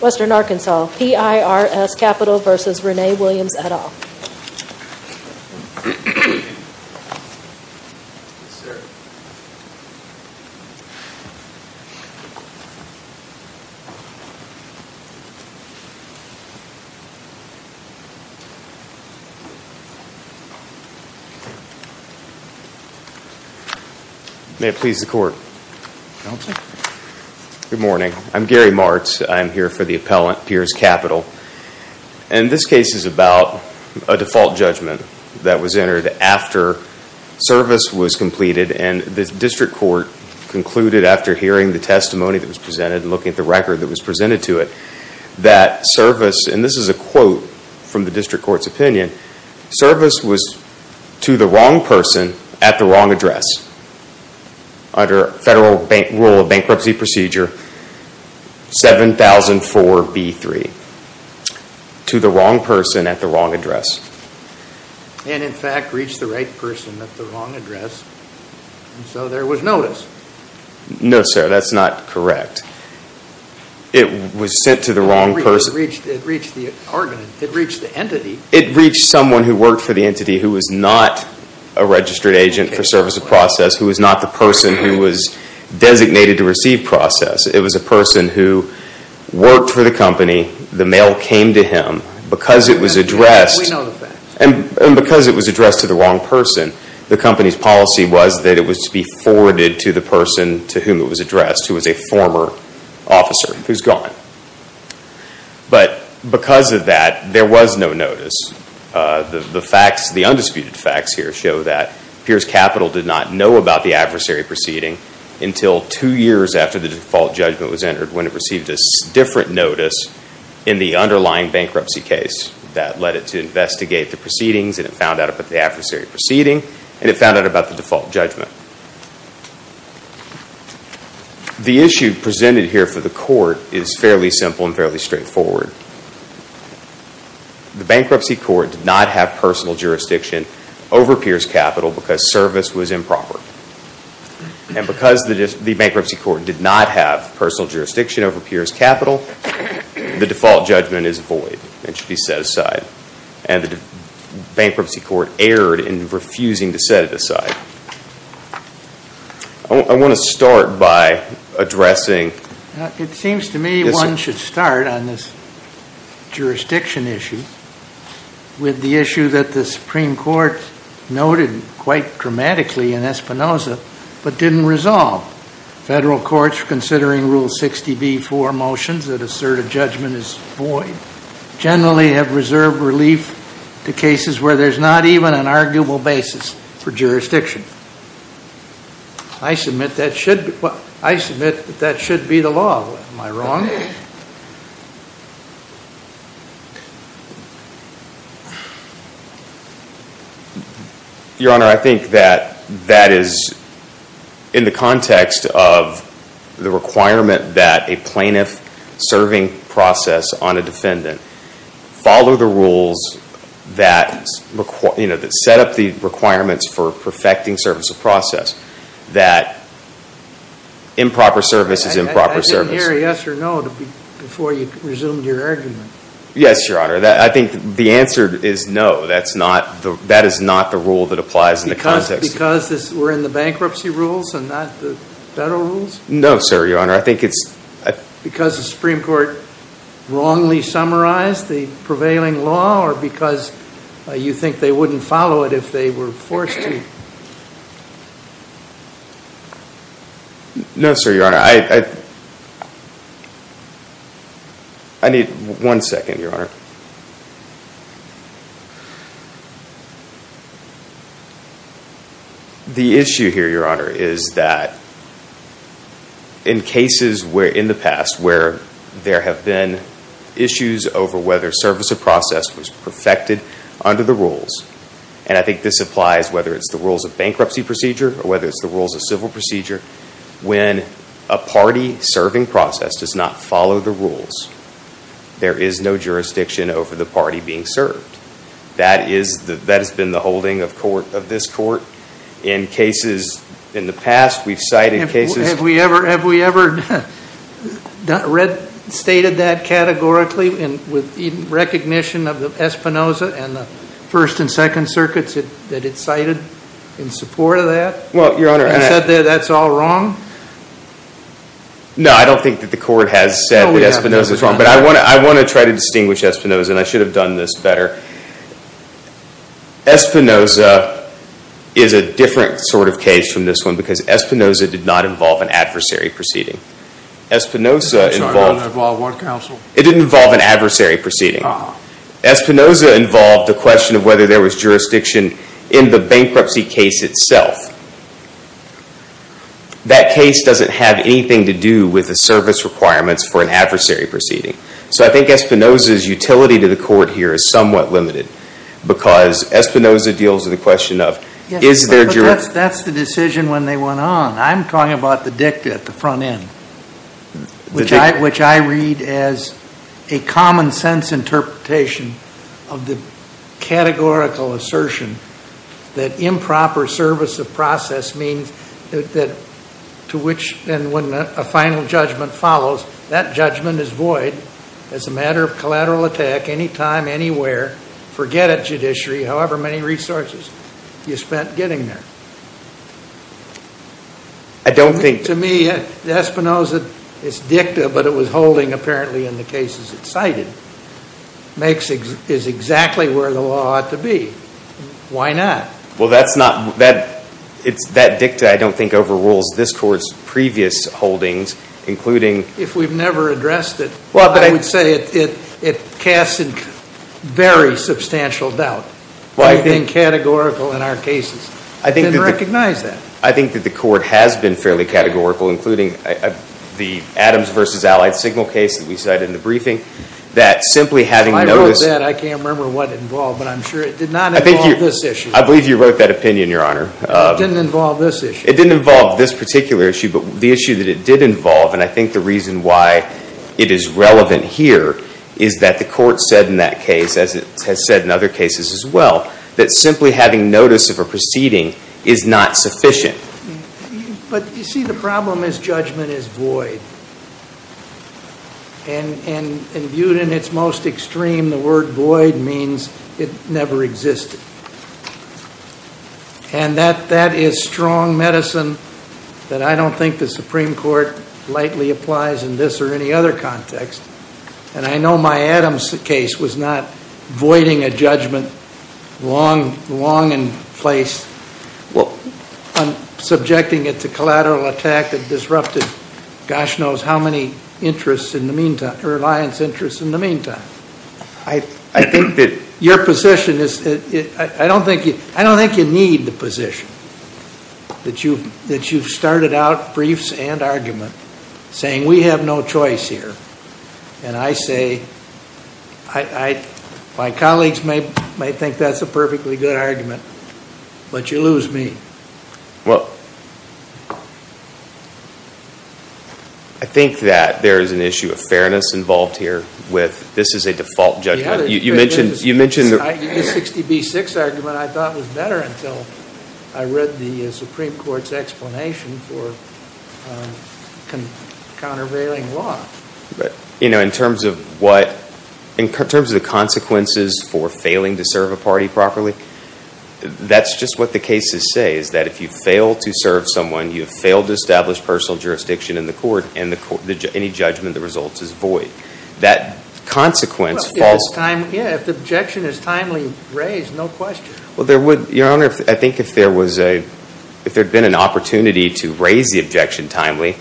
Western Arkansas, PIRS Capital v. Renee Williams et al. May it please the court. Good morning. I'm Gary Martz. I'm here for the appellant PIRS Capital. And this case is about a default judgment that was entered after service was completed and the district court concluded after hearing the testimony that was presented and looking at the record that was presented to it that service, and this is a quote from the district court's opinion, service was to the wrong person at the wrong address under federal rule of bankruptcy procedure 7004B3. To the wrong person at the wrong address. And in fact reached the right person at the wrong address, so there was notice. No sir, that's not correct. It was sent to the wrong person. It reached the entity. It reached someone who worked for the entity who was not a registered agent for service of process, who was not the person who was designated to receive process. It was a person who worked for the company, the mail came to him, because it was addressed, and because it was addressed to the wrong person, the company's policy was that it was to be forwarded to the person to whom it was addressed, who was a former officer, who's gone. But because of that, there was no notice. The facts, the undisputed facts here show that Piers Capital did not know about the adversary proceeding until two years after the default judgment was entered when it received a different notice in the underlying bankruptcy case that led it to investigate the proceedings and it found out about the adversary proceeding and it found out about the default judgment. The issue presented here for the court is fairly simple and fairly straightforward. The bankruptcy court did not have personal jurisdiction over Piers Capital because service was improper. And because the bankruptcy court did not have personal jurisdiction over Piers Capital, the default judgment is void. It should be set aside. I want to start by addressing... It seems to me one should start on this jurisdiction issue with the issue that the Supreme Court noted quite dramatically in Espinoza, but didn't resolve. Federal courts, considering Rule 60b-4 motions that assert a judgment is void, generally have reserved relief to jurisdiction. I submit that should be the law. Am I wrong? Your Honor, I think that that is in the context of the requirement that a plaintiff serving process on a defendant follow the rules that set up the requirements for the plaintiff for perfecting service of process. That improper service is improper service. I didn't hear a yes or no before you resumed your argument. Yes, Your Honor. I think the answer is no. That is not the rule that applies in the context. Because we're in the bankruptcy rules and not the federal rules? No, sir, Your Honor. I think it's... Because the Supreme Court wrongly summarized the prevailing law or because you think they were forced to... No, sir, Your Honor. I need one second, Your Honor. The issue here, Your Honor, is that in cases in the past where there have been issues over whether service of process was in compliance, whether it's the rules of bankruptcy procedure or whether it's the rules of civil procedure, when a party serving process does not follow the rules, there is no jurisdiction over the party being served. That has been the holding of this court. In cases in the past, we've cited cases... Have we ever stated that categorically with recognition of the Espinoza and the First and Second Circuits that it's cited in support of that? Well, Your Honor... And said that that's all wrong? No, I don't think that the court has said that Espinoza's wrong. But I want to try to distinguish Espinoza, and I should have done this better. Espinoza is a different sort of case from this one because Espinoza did not involve an adversary proceeding. Espinoza involved... Sorry, it didn't involve what counsel? It didn't involve an adversary proceeding. Espinoza involved the question of whether there was jurisdiction in the bankruptcy case itself. That case doesn't have anything to do with the service requirements for an adversary proceeding. So I think Espinoza's utility to the court here is somewhat limited because Espinoza deals with the question of, is there jurisdiction? That's the decision when they went on. I'm talking about the dicta at the front end, which I read as a common sense interpretation of the categorical assertion that improper service of process means that to which... And when a final judgment follows, that judgment is void as a matter of collateral attack, anytime, anywhere, forget it judiciary, however many resources you spent getting there. I don't think... To me, Espinoza's dicta, but it was holding apparently in the cases it cited, is exactly where the law ought to be. Why not? Well, that dicta I don't think overrules this court's previous holdings, including... If we've never addressed it, I would say it casts very substantial doubt in categorical in our cases. I didn't recognize that. I think that the court has been fairly categorical, including the Adams versus Allied Signal case that we cited in the briefing, that simply having notice... I wrote that. I can't remember what it involved, but I'm sure it did not involve this issue. I believe you wrote that opinion, Your Honor. It didn't involve this issue. It didn't involve this particular issue, but the issue that it did involve, and I think the reason why it is relevant here, is that the court said in that case, as it has said in other cases as well, that simply having notice of a proceeding is not sufficient. But you see, the problem is judgment is void. And viewed in its most extreme, the word void means it never existed. And that is strong medicine that I don't think the Supreme Court lightly applies in this or any other context. And I know my Adams case was not voiding a judgment long in place on subjecting it to collateral attack that disrupted gosh knows how many interests in the meantime, or alliance interests in the meantime. I think that your position is... I don't think you need the position that you've started out briefs and argument, saying we have no choice here. And I say, my colleagues may think that's a perfectly good argument, but you lose me. I think that there is an issue of fairness involved here with this is a default judgment. You mentioned... The 60B6 argument I thought was better until I read the Supreme Court's explanation for countervailing law. In terms of what... In terms of the consequences for failing to serve a party properly, that's just what the cases say, is that if you fail to serve someone, you have failed to establish personal jurisdiction in the court, and any judgment that results is void. That consequence falls... Yeah, if the objection is timely raised, no question. There would... Your Honor, I think if there was a... If there had been an opportunity to raise the objection timely,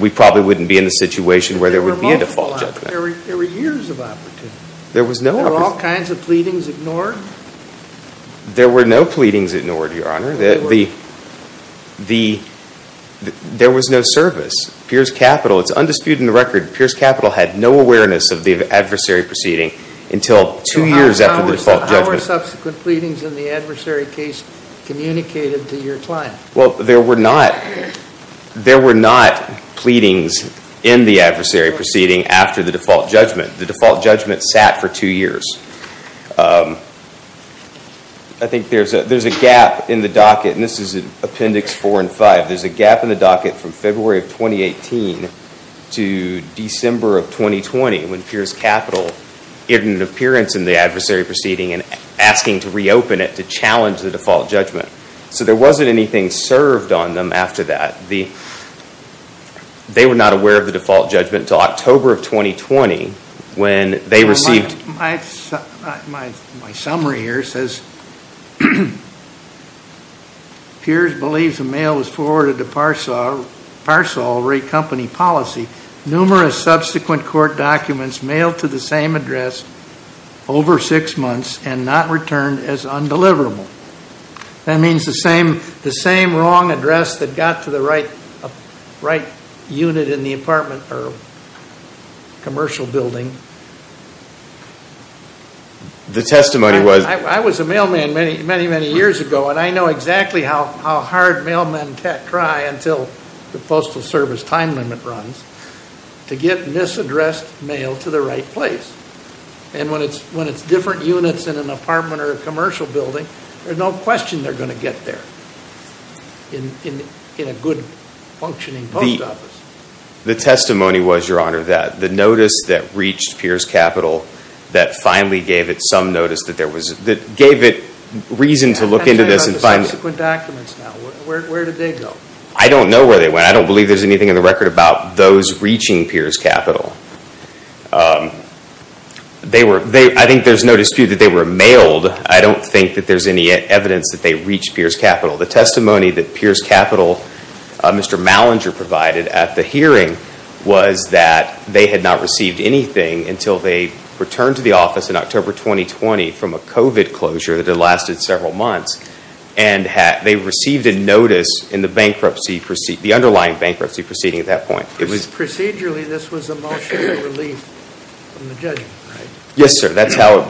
we probably wouldn't be in the situation where there would be a default judgment. There were multiple... There were years of opportunity. There was no opportunity. There were all kinds of pleadings ignored. There were no pleadings ignored, Your Honor. There was no service. Pierce Capital, it's undisputed in the record, Pierce Capital had no awareness of the adversary proceeding until two years after the default judgment. No subsequent pleadings in the adversary case communicated to your client. Well, there were not... There were not pleadings in the adversary proceeding after the default judgment. The default judgment sat for two years. I think there's a gap in the docket, and this is in Appendix 4 and 5. There's a gap in the docket from February of 2018 to December of 2020, when Pierce Capital, in an appearance in the adversary proceeding and asking to reopen it to challenge the default judgment. So there wasn't anything served on them after that. They were not aware of the default judgment until October of 2020 when they received... Well, my summary here says, Pierce believes a mail was forwarded to Parcel Recompany Policy numerous subsequent court documents mailed to the same address over six months and not returned as undeliverable. That means the same wrong address that got to the right unit in the apartment or commercial building. The testimony was... I was a mailman many, many, many years ago, and I know exactly how hard mailmen cry until the Postal Service time limit runs to get misaddressed mail to the right place. And when it's different units in an apartment or a commercial building, there's no question they're going to get there in a good functioning post office. The testimony was, Your Honor, that the notice that reached Pierce Capital that finally gave it some notice that there was... that gave it reason to look into this and find... I'm talking about the subsequent documents now. Where did they go? I don't know where they went. I don't believe there's anything in the record about those reaching Pierce Capital. I think there's no dispute that they were mailed. I don't think that there's any evidence that they reached Pierce Capital. The testimony that Pierce Capital, Mr. Mallinger provided at the hearing was that they had not received anything until they returned to the office in October 2020 from a COVID closure that had lasted several months. And they received a notice in the bankruptcy... the underlying bankruptcy proceeding at that point. Procedurally, this was a multi-year relief from the judgment, right? Yes, sir. That's how...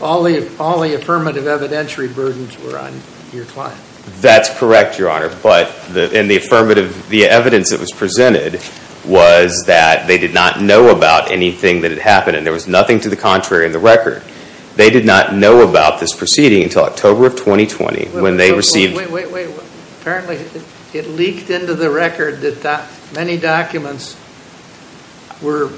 All the affirmative evidentiary burdens were on your client. That's correct, Your Honor. But in the affirmative, the evidence that was presented was that they did not know about anything that had happened. And there was nothing to the contrary in the record. They did not know about this proceeding until October of 2020 when they received... Wait, wait, wait. Apparently, it leaked into the record that many documents were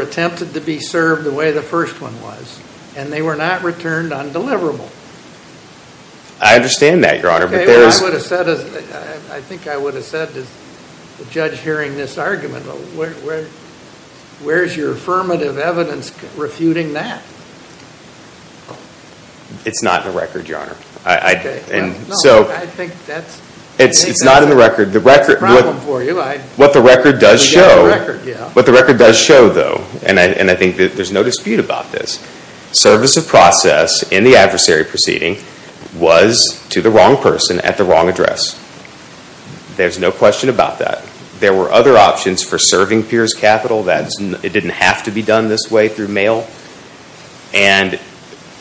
attempted to be served the way the first one was. And they were not returned on deliverable. I understand that, Your Honor, but there is... I think I would have said to the judge hearing this argument, where's your affirmative evidence refuting that? It's not in the record, Your Honor. No, I think that's... It's not in the record. ...a problem for you. What the record does show, what the record does show though, and I think that there's no dispute about this, service of process in the adversary proceeding was to the wrong person at the wrong address. There's no question about that. There were other options for serving peers capital. It didn't have to be done this way through mail. And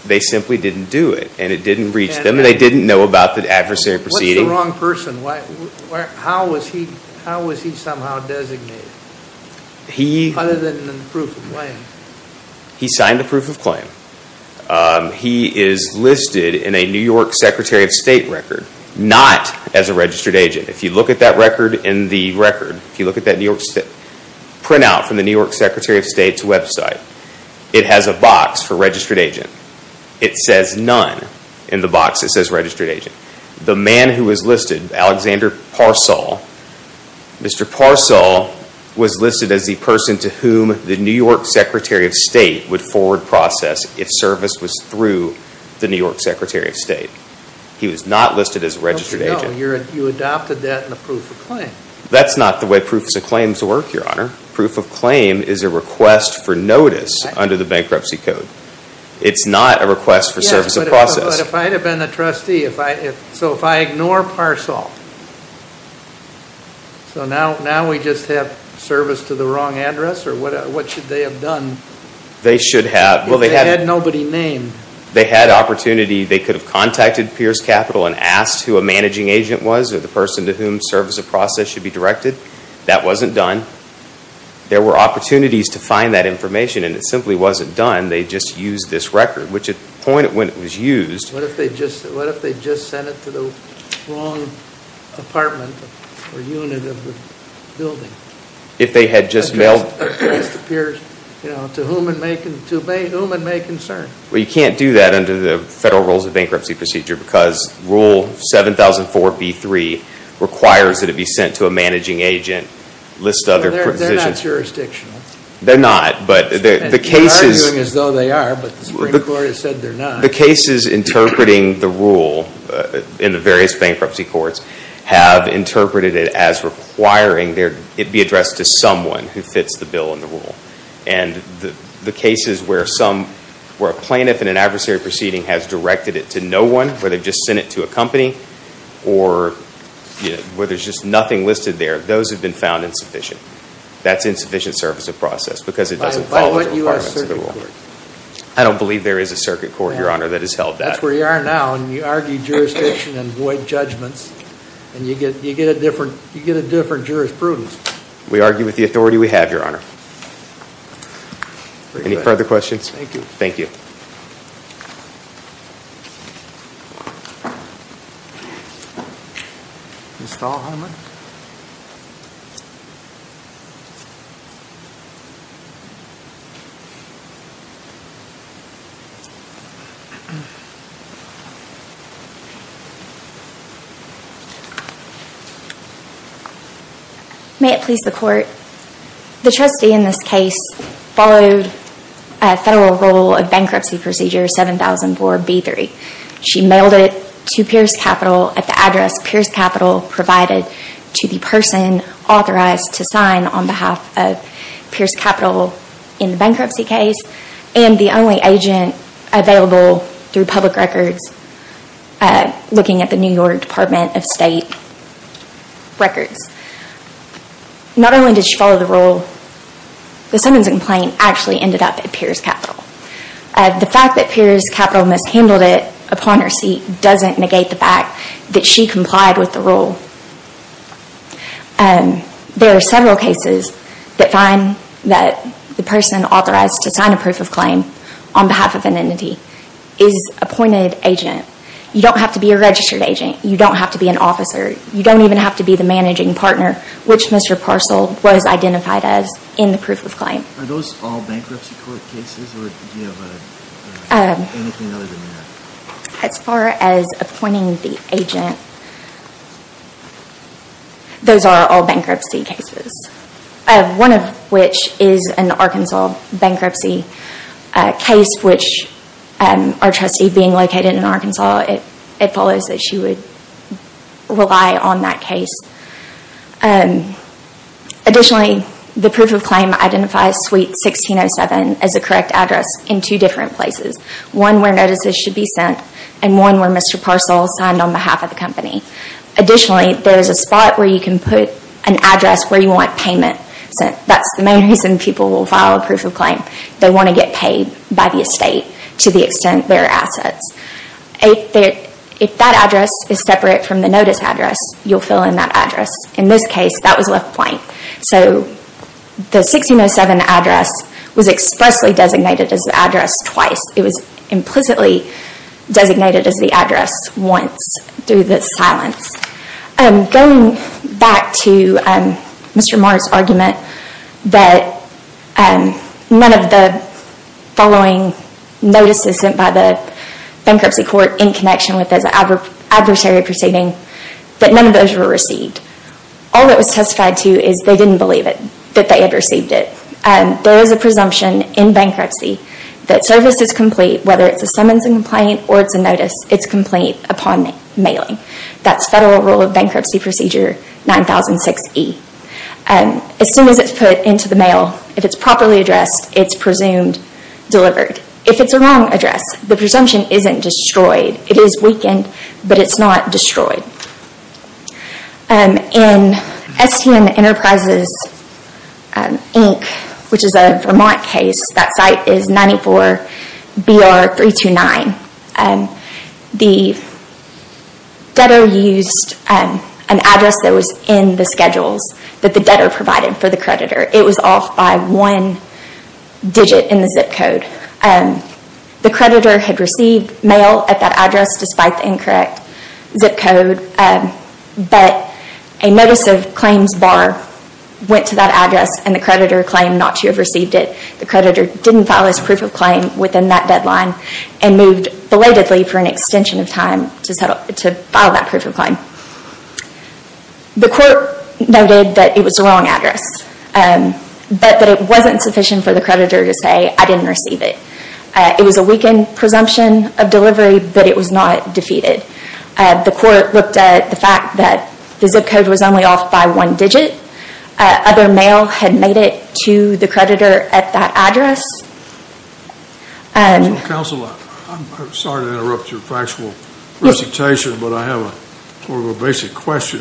they simply didn't do it. And it didn't reach them. And they didn't know about the adversary proceeding. What's the wrong person? How was he somehow designated? Other than in the proof of claim. He signed the proof of claim. He is listed in a New York Secretary of State record, not as a registered agent. If you look at that record in the record, if you look at that New York State printout from the New York Secretary of State's website, it has a box for registered agent. It says none in the box that says registered agent. The man who was listed, Alexander Parsall, Mr. Parsall was listed as the person to whom the New York Secretary of State would forward process if service was through the New York Secretary of State. He was not listed as a registered agent. You adopted that in the proof of claim. That's not the way proofs of claims work, Your Honor. Proof of claim is a request for notice under the bankruptcy code. It's not a request for service of process. Yes, but if I had been a trustee, so if I ignore Parsall, so now we just have service to the wrong address? Or what should they have done? They should have. They had nobody named. They had opportunity. They could have contacted Pierce Capital and asked who a managing agent was or the person to whom service of process should be directed. That wasn't done. There were opportunities to find that information, and it simply wasn't done. They just used this record, which at the point when it was used... What if they just sent it to the wrong apartment or unit of the building? If they had just mailed... Well, you can't do that under the Federal Rules of Bankruptcy Procedure because Rule 7004B3 requires that it be sent to a managing agent, list other... They're not jurisdictional. They're not, but the cases... They're arguing as though they are, but the Supreme Court has said they're not. The cases interpreting the rule in the various bankruptcy courts have interpreted it as requiring it be addressed to someone who fits the bill and the rule. The cases where a plaintiff in an adversary proceeding has directed it to no one, where they've just sent it to a company or where there's just nothing listed there, those have been found insufficient. That's insufficient service of process because it doesn't follow the requirements of the rule. By what U.S. Circuit Court? I don't believe there is a circuit court, Your Honor, that has held that. That's where you are now, and you argue jurisdiction and void judgments, and you get a different jurisprudence. We argue with the authority we have, Your Honor. Any further questions? Thank you. Thank you. Ms. Thalheimer? May it please the Court? The trustee in this case followed a federal rule of bankruptcy procedure 7004B3. She mailed it to Pierce Capital at the address Pierce Capital provided to the person authorized to sign on behalf of Pierce Capital in the bankruptcy case and the only agent available through public records looking at the New York Department of State records. Not only did she follow the rule, the summons complaint actually ended up at Pierce Capital. The fact that Pierce Capital mishandled it upon receipt doesn't negate the fact that she complied with the rule. There are several cases that find that the person authorized to sign a proof of claim on behalf of an entity is appointed agent. You don't have to be a registered agent. You don't have to be an officer. You don't even have to be the managing partner, which Mr. Parcell was identified as in the proof of claim. Are those all bankruptcy court cases or do you have anything other than that? As far as appointing the agent, those are all bankruptcy cases. One of which is an Arkansas bankruptcy case, which our trustee being located in Arkansas, it follows that she would rely on that case. Additionally, the proof of claim identifies suite 1607 as a correct address in two different places. One where notices should be sent and one where Mr. Parcell signed on behalf of the company. Additionally, there is a spot where you can put an address where you want payment sent. That's the main reason people will file a proof of claim. They want to get paid by the estate to the extent their assets. If that address is separate from the notice address, you'll fill in that address. In this case, that was left blank. The 1607 address was expressly designated as the address twice. It was implicitly designated as the address once through the silence. Going back to Mr. Morris' argument that none of the following notices sent by the bankruptcy court in connection with this adversary proceeding, that none of those were received. All that was testified to is they didn't believe it, that they had received it. There is a presumption in bankruptcy that service is complete, whether it's a summons and complaint or it's a notice, it's complete upon mailing. That's Federal Rule of Bankruptcy Procedure 9006E. As soon as it's put into the mail, if it's properly addressed, it's presumed delivered. If it's a wrong address, the presumption isn't destroyed. It is weakened, but it's not destroyed. In STM Enterprises Inc., which is a Vermont case, that site is 94BR329. The debtor used an address that was in the schedules that the debtor provided for the creditor. It was off by one digit in the zip code. The creditor had received mail at that address despite the incorrect zip code, but a notice of claims bar went to that address and the creditor claimed not to have received it. The creditor didn't file his proof of claim within that deadline and moved belatedly for an extension of time to file that proof of claim. The court noted that it was a wrong address, but that it wasn't sufficient for the creditor to say, I didn't receive it. It was a weakened presumption of delivery, but it was not defeated. The court looked at the fact that the zip code was only off by one digit. Other mail had made it to the creditor at that address. Counsel, I'm sorry to interrupt your factual presentation, but I have a basic question.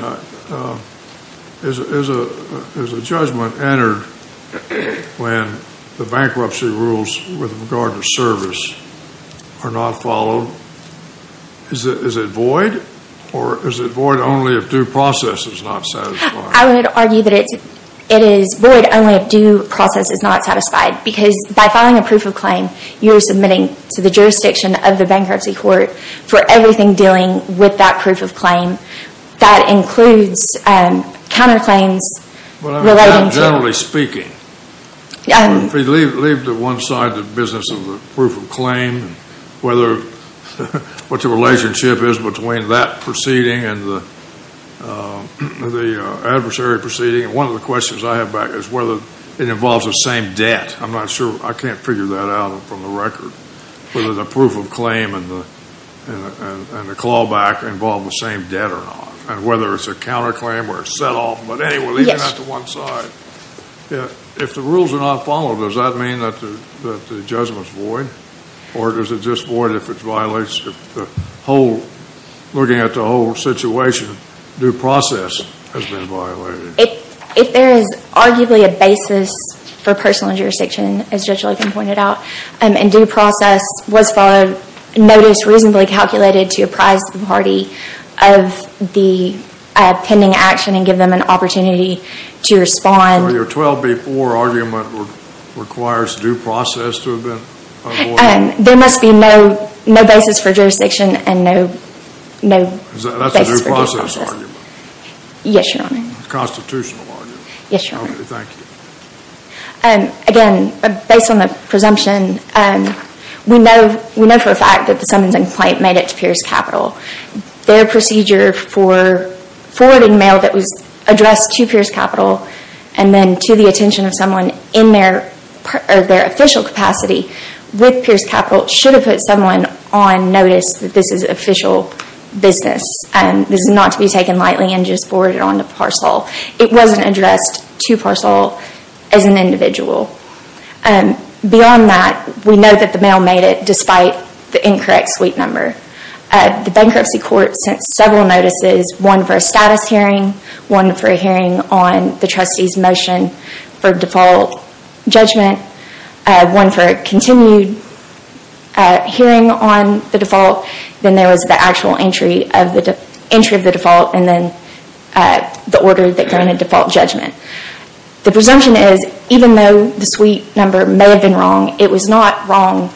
Is a judgment entered when the bankruptcy rules with regard to service are not followed? Is it void, or is it void only if due process is not satisfied? I would argue that it is void only if due process is not satisfied, because by filing a proof of claim, you're submitting to the jurisdiction of the bankruptcy court for everything dealing with that proof of claim. That includes counterclaims relating to... Generally speaking, if we leave to one side the business of the proof of claim, what the One of the questions I have back is whether it involves the same debt. I'm not sure. I can't figure that out from the record, whether the proof of claim and the clawback involve the same debt or not, and whether it's a counterclaim or a set-off. But anyway, we're leaving that to one side. If the rules are not followed, does that mean that the judgment's void, or does it just if looking at the whole situation, due process has been violated? If there is arguably a basis for personal injurisdiction, as Judge Logan pointed out, and due process was followed, notice reasonably calculated to apprise the party of the pending action and give them an opportunity to respond. So your 12B4 argument requires due process to have been avoided? There must be no basis for jurisdiction and no basis for due process. Is that a due process argument? Yes, Your Honor. A constitutional argument. Yes, Your Honor. Okay, thank you. Again, based on the presumption, we know for a fact that the summons and complaint made it to Pierce Capital. Their procedure for forwarding mail that was addressed to Pierce Capital and then to the attention of someone in their official capacity with Pierce Capital should have put someone on notice that this is official business. This is not to be taken lightly and just forwarded on to Parcel. It wasn't addressed to Parcel as an individual. Beyond that, we know that the mail made it despite the incorrect suite number. The bankruptcy court sent several notices, one for a status hearing, one for a hearing on the trustee's motion for default judgment, one for a continued hearing on the default. Then there was the actual entry of the default and then the order that granted default judgment. The presumption is even though the suite number may have been wrong, it was not wrong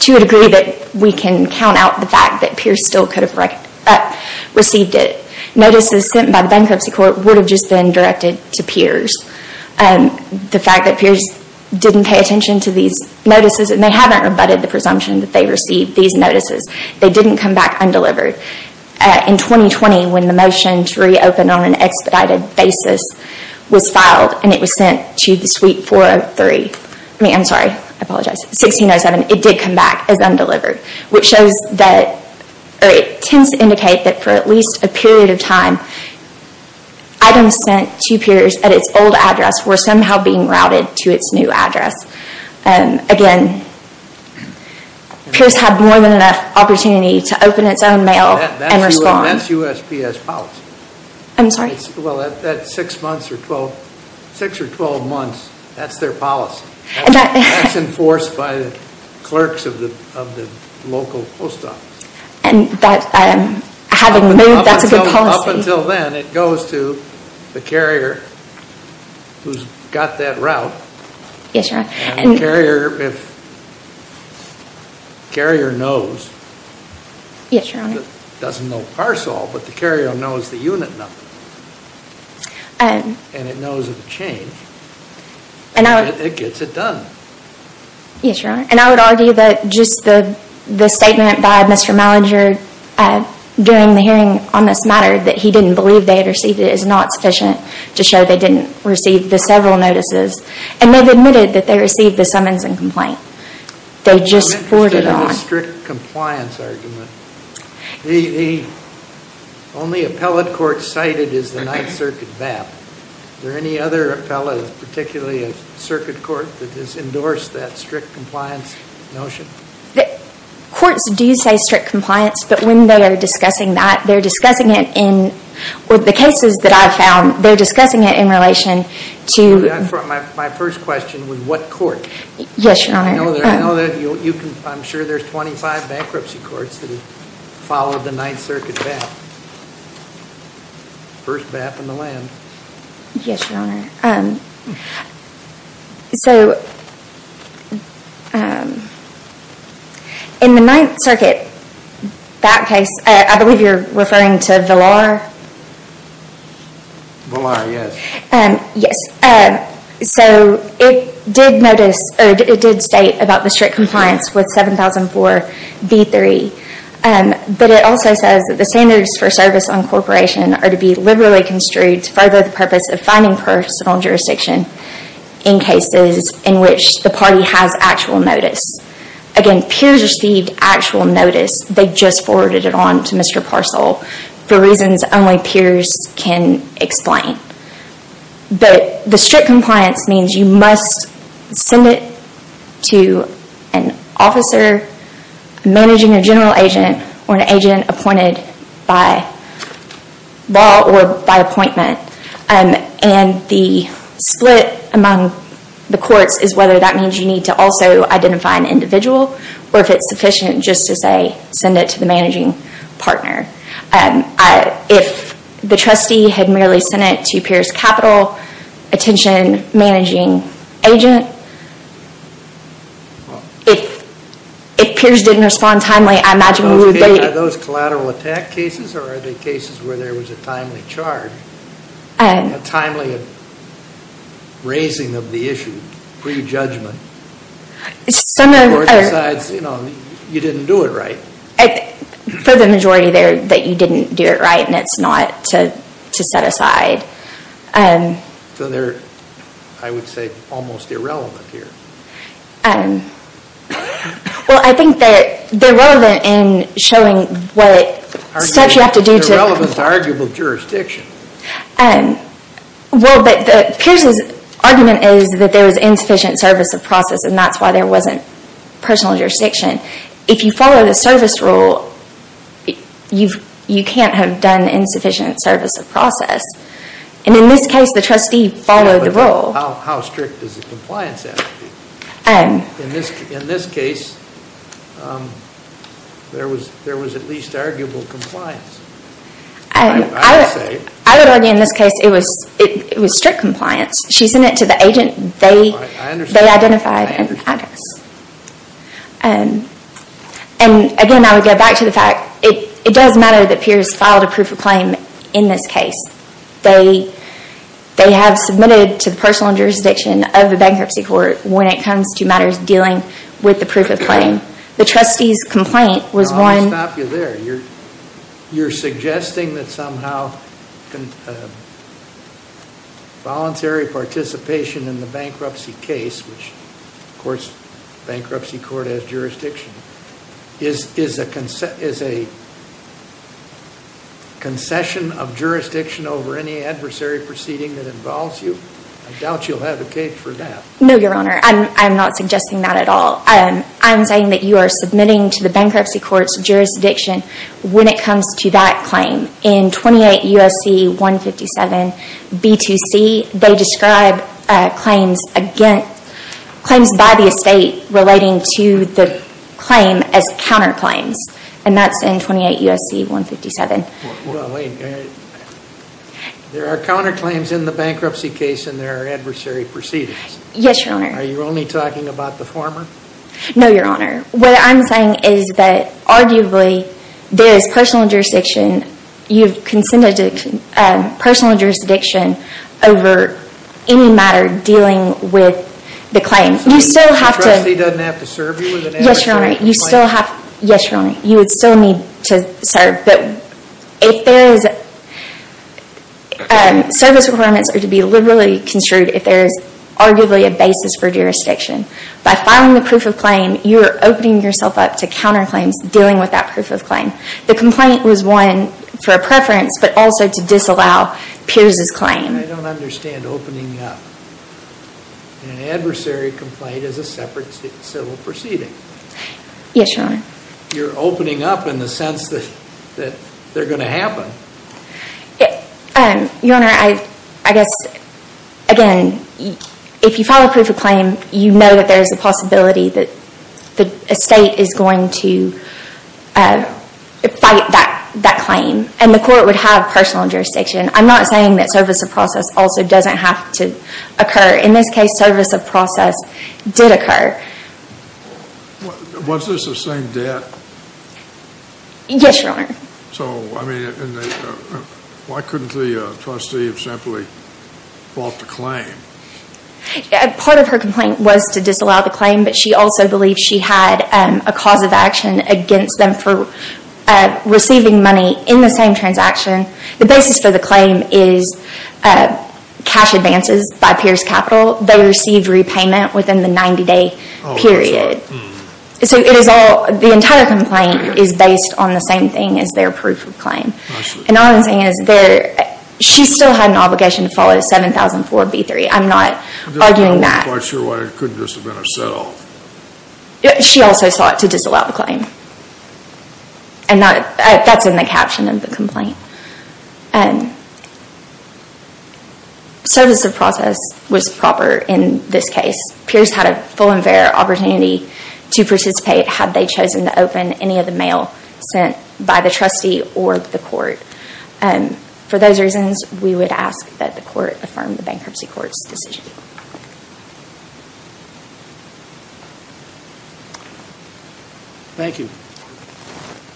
to a degree that we can count out the fact that Pierce still could have received it. Notices sent by the bankruptcy court would have just been directed to Pierce. The fact that Pierce didn't pay attention to these notices, and they haven't rebutted the presumption that they received these notices, they didn't come back undelivered. In 2020, when the motion to reopen on an expedited basis was filed, and it was sent to the suite 607, it did come back as undelivered. It tends to indicate that for at least a period of time, items sent to Pierce at its old address were somehow being routed to its new address. Again, Pierce had more than enough opportunity to open its own mail and respond. That's USPS policy. I'm sorry? Well, that's 6 or 12 months. That's their policy. That's enforced by the clerks of the local post office. And that having moved, that's a good policy. Up until then, it goes to the carrier who's got that route. Yes, Your Honor. And the carrier knows. Yes, Your Honor. Doesn't know parcel, but the carrier knows the unit number. And it knows of the change. It gets it done. Yes, Your Honor. And I would argue that just the statement by Mr. Malinger during the hearing on this matter, that he didn't believe they had received it, is not sufficient to show they didn't receive the several notices. And they've admitted that they received the summons and complaint. They just forwarded on. I'm interested in the strict compliance argument. Only appellate court cited is the Ninth Circuit BAP. Is there any other appellate, particularly a circuit court, that has endorsed that strict compliance notion? Courts do say strict compliance, but when they are discussing that, they're discussing it in, with the cases that I've found, they're discussing it in relation to. My first question was what court? Yes, Your Honor. I know that you can, I'm sure there's 25 bankruptcy courts that have followed the Ninth Circuit BAP. First BAP in the land. Yes, Your Honor. So, in the Ninth Circuit BAP case, I believe you're referring to Villar? Villar, yes. Yes. So, it did notice, or it did state about the strict compliance with 7004B3. But it also says that the standards for service on corporation are to be liberally construed to further the purpose of finding personal jurisdiction in cases in which the party has actual notice. Again, peers received actual notice. They just forwarded it on to Mr. Parcell for reasons only peers can explain. But the strict compliance means you must send it to an officer managing a general agent or an agent appointed by law or by appointment. And the split among the courts is whether that means you need to also identify an individual or if it's sufficient just to say send it to the managing partner. If the trustee had merely sent it to peers' capital attention managing agent, if peers didn't respond timely, I imagine we would be late. Are those collateral attack cases or are they cases where there was a timely charge, a timely raising of the issue, pre-judgment? Some of them are. Or besides, you know, you didn't do it right. For the majority, they're that you didn't do it right and it's not to set aside. So they're, I would say, almost irrelevant here. Well, I think that they're relevant in showing what steps you have to do to They're relevant to arguable jurisdiction. Well, but the peers' argument is that there was insufficient service of process and that's why there wasn't personal jurisdiction. If you follow the service rule, you can't have done insufficient service of process. And in this case, the trustee followed the rule. How strict does the compliance have to be? In this case, there was at least arguable compliance, I would say. I would argue in this case, it was strict compliance. She sent it to the agent. They identified an address. And again, I would go back to the fact, it does matter that peers filed a proof of claim in this case. They have submitted to the personal jurisdiction of the bankruptcy court when it comes to matters dealing with the proof of claim. The trustee's complaint was one I'll stop you there. You're suggesting that somehow voluntary participation in the bankruptcy case, which, of course, bankruptcy court has jurisdiction, is a concession of jurisdiction over any adversary proceeding that involves you? I doubt you'll have a case for that. No, Your Honor. I'm not suggesting that at all. I'm saying that you are submitting to the bankruptcy court's jurisdiction when it comes to that claim. In 28 U.S.C. 157 B2C, they describe claims by the estate relating to the claim as counterclaims. And that's in 28 U.S.C. 157. There are counterclaims in the bankruptcy case and there are adversary proceedings. Yes, Your Honor. Are you only talking about the former? No, Your Honor. What I'm saying is that arguably there is personal jurisdiction. You've consented to personal jurisdiction over any matter dealing with the claim. The trustee doesn't have to serve you with an adversary complaint? Yes, Your Honor. You would still need to serve. Service requirements are to be liberally construed if there is arguably a basis for jurisdiction. By filing the proof of claim, you are opening yourself up to counterclaims dealing with that proof of claim. The complaint was one for preference, but also to disallow Pierce's claim. I don't understand opening up an adversary complaint as a separate civil proceeding. Yes, Your Honor. You're opening up in the sense that they're going to happen. Your Honor, I guess, again, if you file a proof of claim, you know that there is a possibility that the estate is going to fight that claim. And the court would have personal jurisdiction. I'm not saying that service of process also doesn't have to occur. In this case, service of process did occur. Was this the same debt? Yes, Your Honor. So, I mean, why couldn't the trustee have simply bought the claim? Part of her complaint was to disallow the claim, but she also believed she had a cause of action against them for receiving money in the same transaction. The basis for the claim is cash advances by Pierce Capital. They received repayment within the 90-day period. So, the entire complaint is based on the same thing as their proof of claim. And all I'm saying is she still had an obligation to follow the 7004B3. I'm not arguing that. I'm not quite sure why it couldn't just have been herself. She also sought to disallow the claim. And that's in the caption of the complaint. And service of process was proper in this case. Pierce had a full and fair opportunity to participate had they chosen to open any of the mail sent by the trustee or the court. For those reasons, we would ask that the court affirm the Bankruptcy Court's decision. Thank you.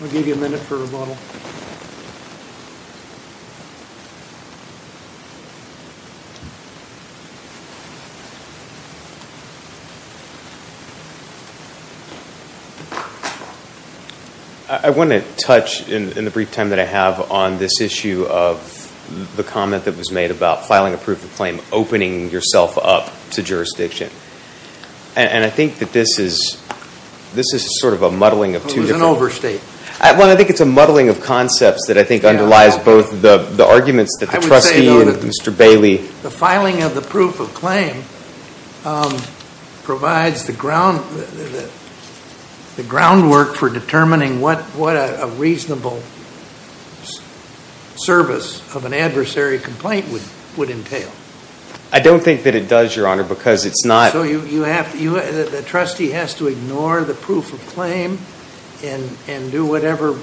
We'll give you a minute for rebuttal. I want to touch in the brief time that I have on this issue of the comment that was made about filing a proof of claim, opening yourself up to jurisdiction. And I think that this is sort of a muddling of two different... It was an overstate. Well, I think it's a muddling of concepts that I think underlies both the arguments that the trustee and Mr. Bailey... The filing of the proof of claim provides the groundwork for determining what a reasonable service of an adversary complaint would entail. I don't think that it does, Your Honor, because it's not... So the trustee has to ignore the proof of claim and do whatever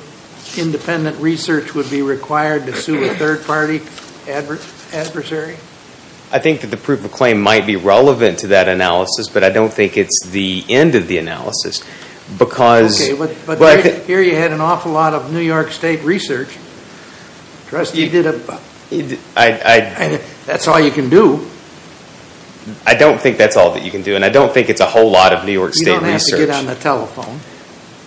independent research would be required to sue a third-party adversary? I think that the proof of claim might be relevant to that analysis, but I don't think it's the end of the analysis because... I don't think that's all that you can do, and I don't think it's a whole lot of New York State research. You don't have to get on the telephone.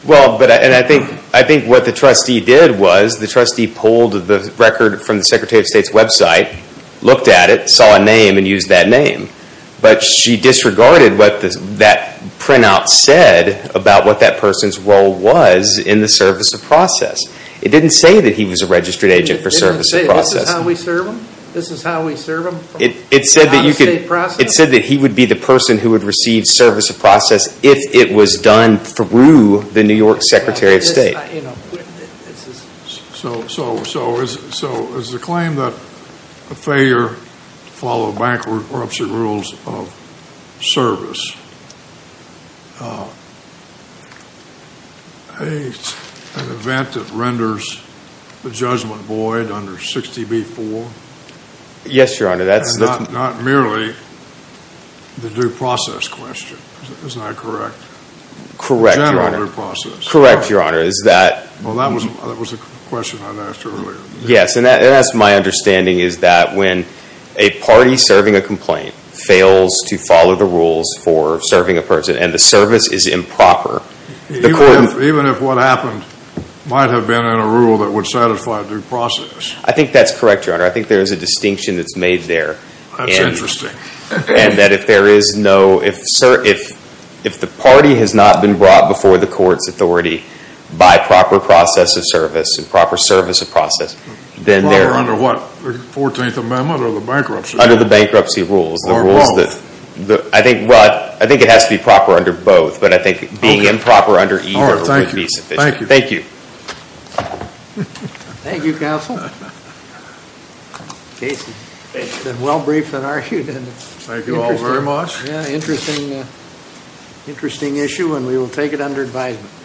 Well, and I think what the trustee did was the trustee pulled the record from the Secretary of State's website, looked at it, saw a name, and used that name. But she disregarded what that printout said about what that person's role was in the service of process. It didn't say that he was a registered agent for service of process. This is how we serve them? This is how we serve them? It said that he would be the person who would receive service of process if it was done through the New York Secretary of State. So is the claim that a failure to follow bankruptcy rules of service an event that renders the judgment void under 60B-4? Yes, Your Honor. And not merely the due process question. Isn't that correct? Correct, Your Honor. The general due process. Correct, Your Honor. Well, that was a question I'd asked earlier. Yes, and that's my understanding is that when a party serving a complaint fails to follow the rules for serving a person and the service is improper, the court Even if what happened might have been in a rule that would satisfy due process. I think that's correct, Your Honor. I think there is a distinction that's made there. That's interesting. And that if there is no, if the party has not been brought before the court's authority by proper process of service and proper service of process, then they're Under what? The 14th Amendment or the bankruptcy? Under the bankruptcy rules. Or both. I think it has to be proper under both, but I think being improper under either would be sufficient. Thank you. Thank you. Thank you, counsel. Casey. It's been well briefed and argued. Thank you all very much. Yeah, interesting, interesting issue and we will take it under advisement.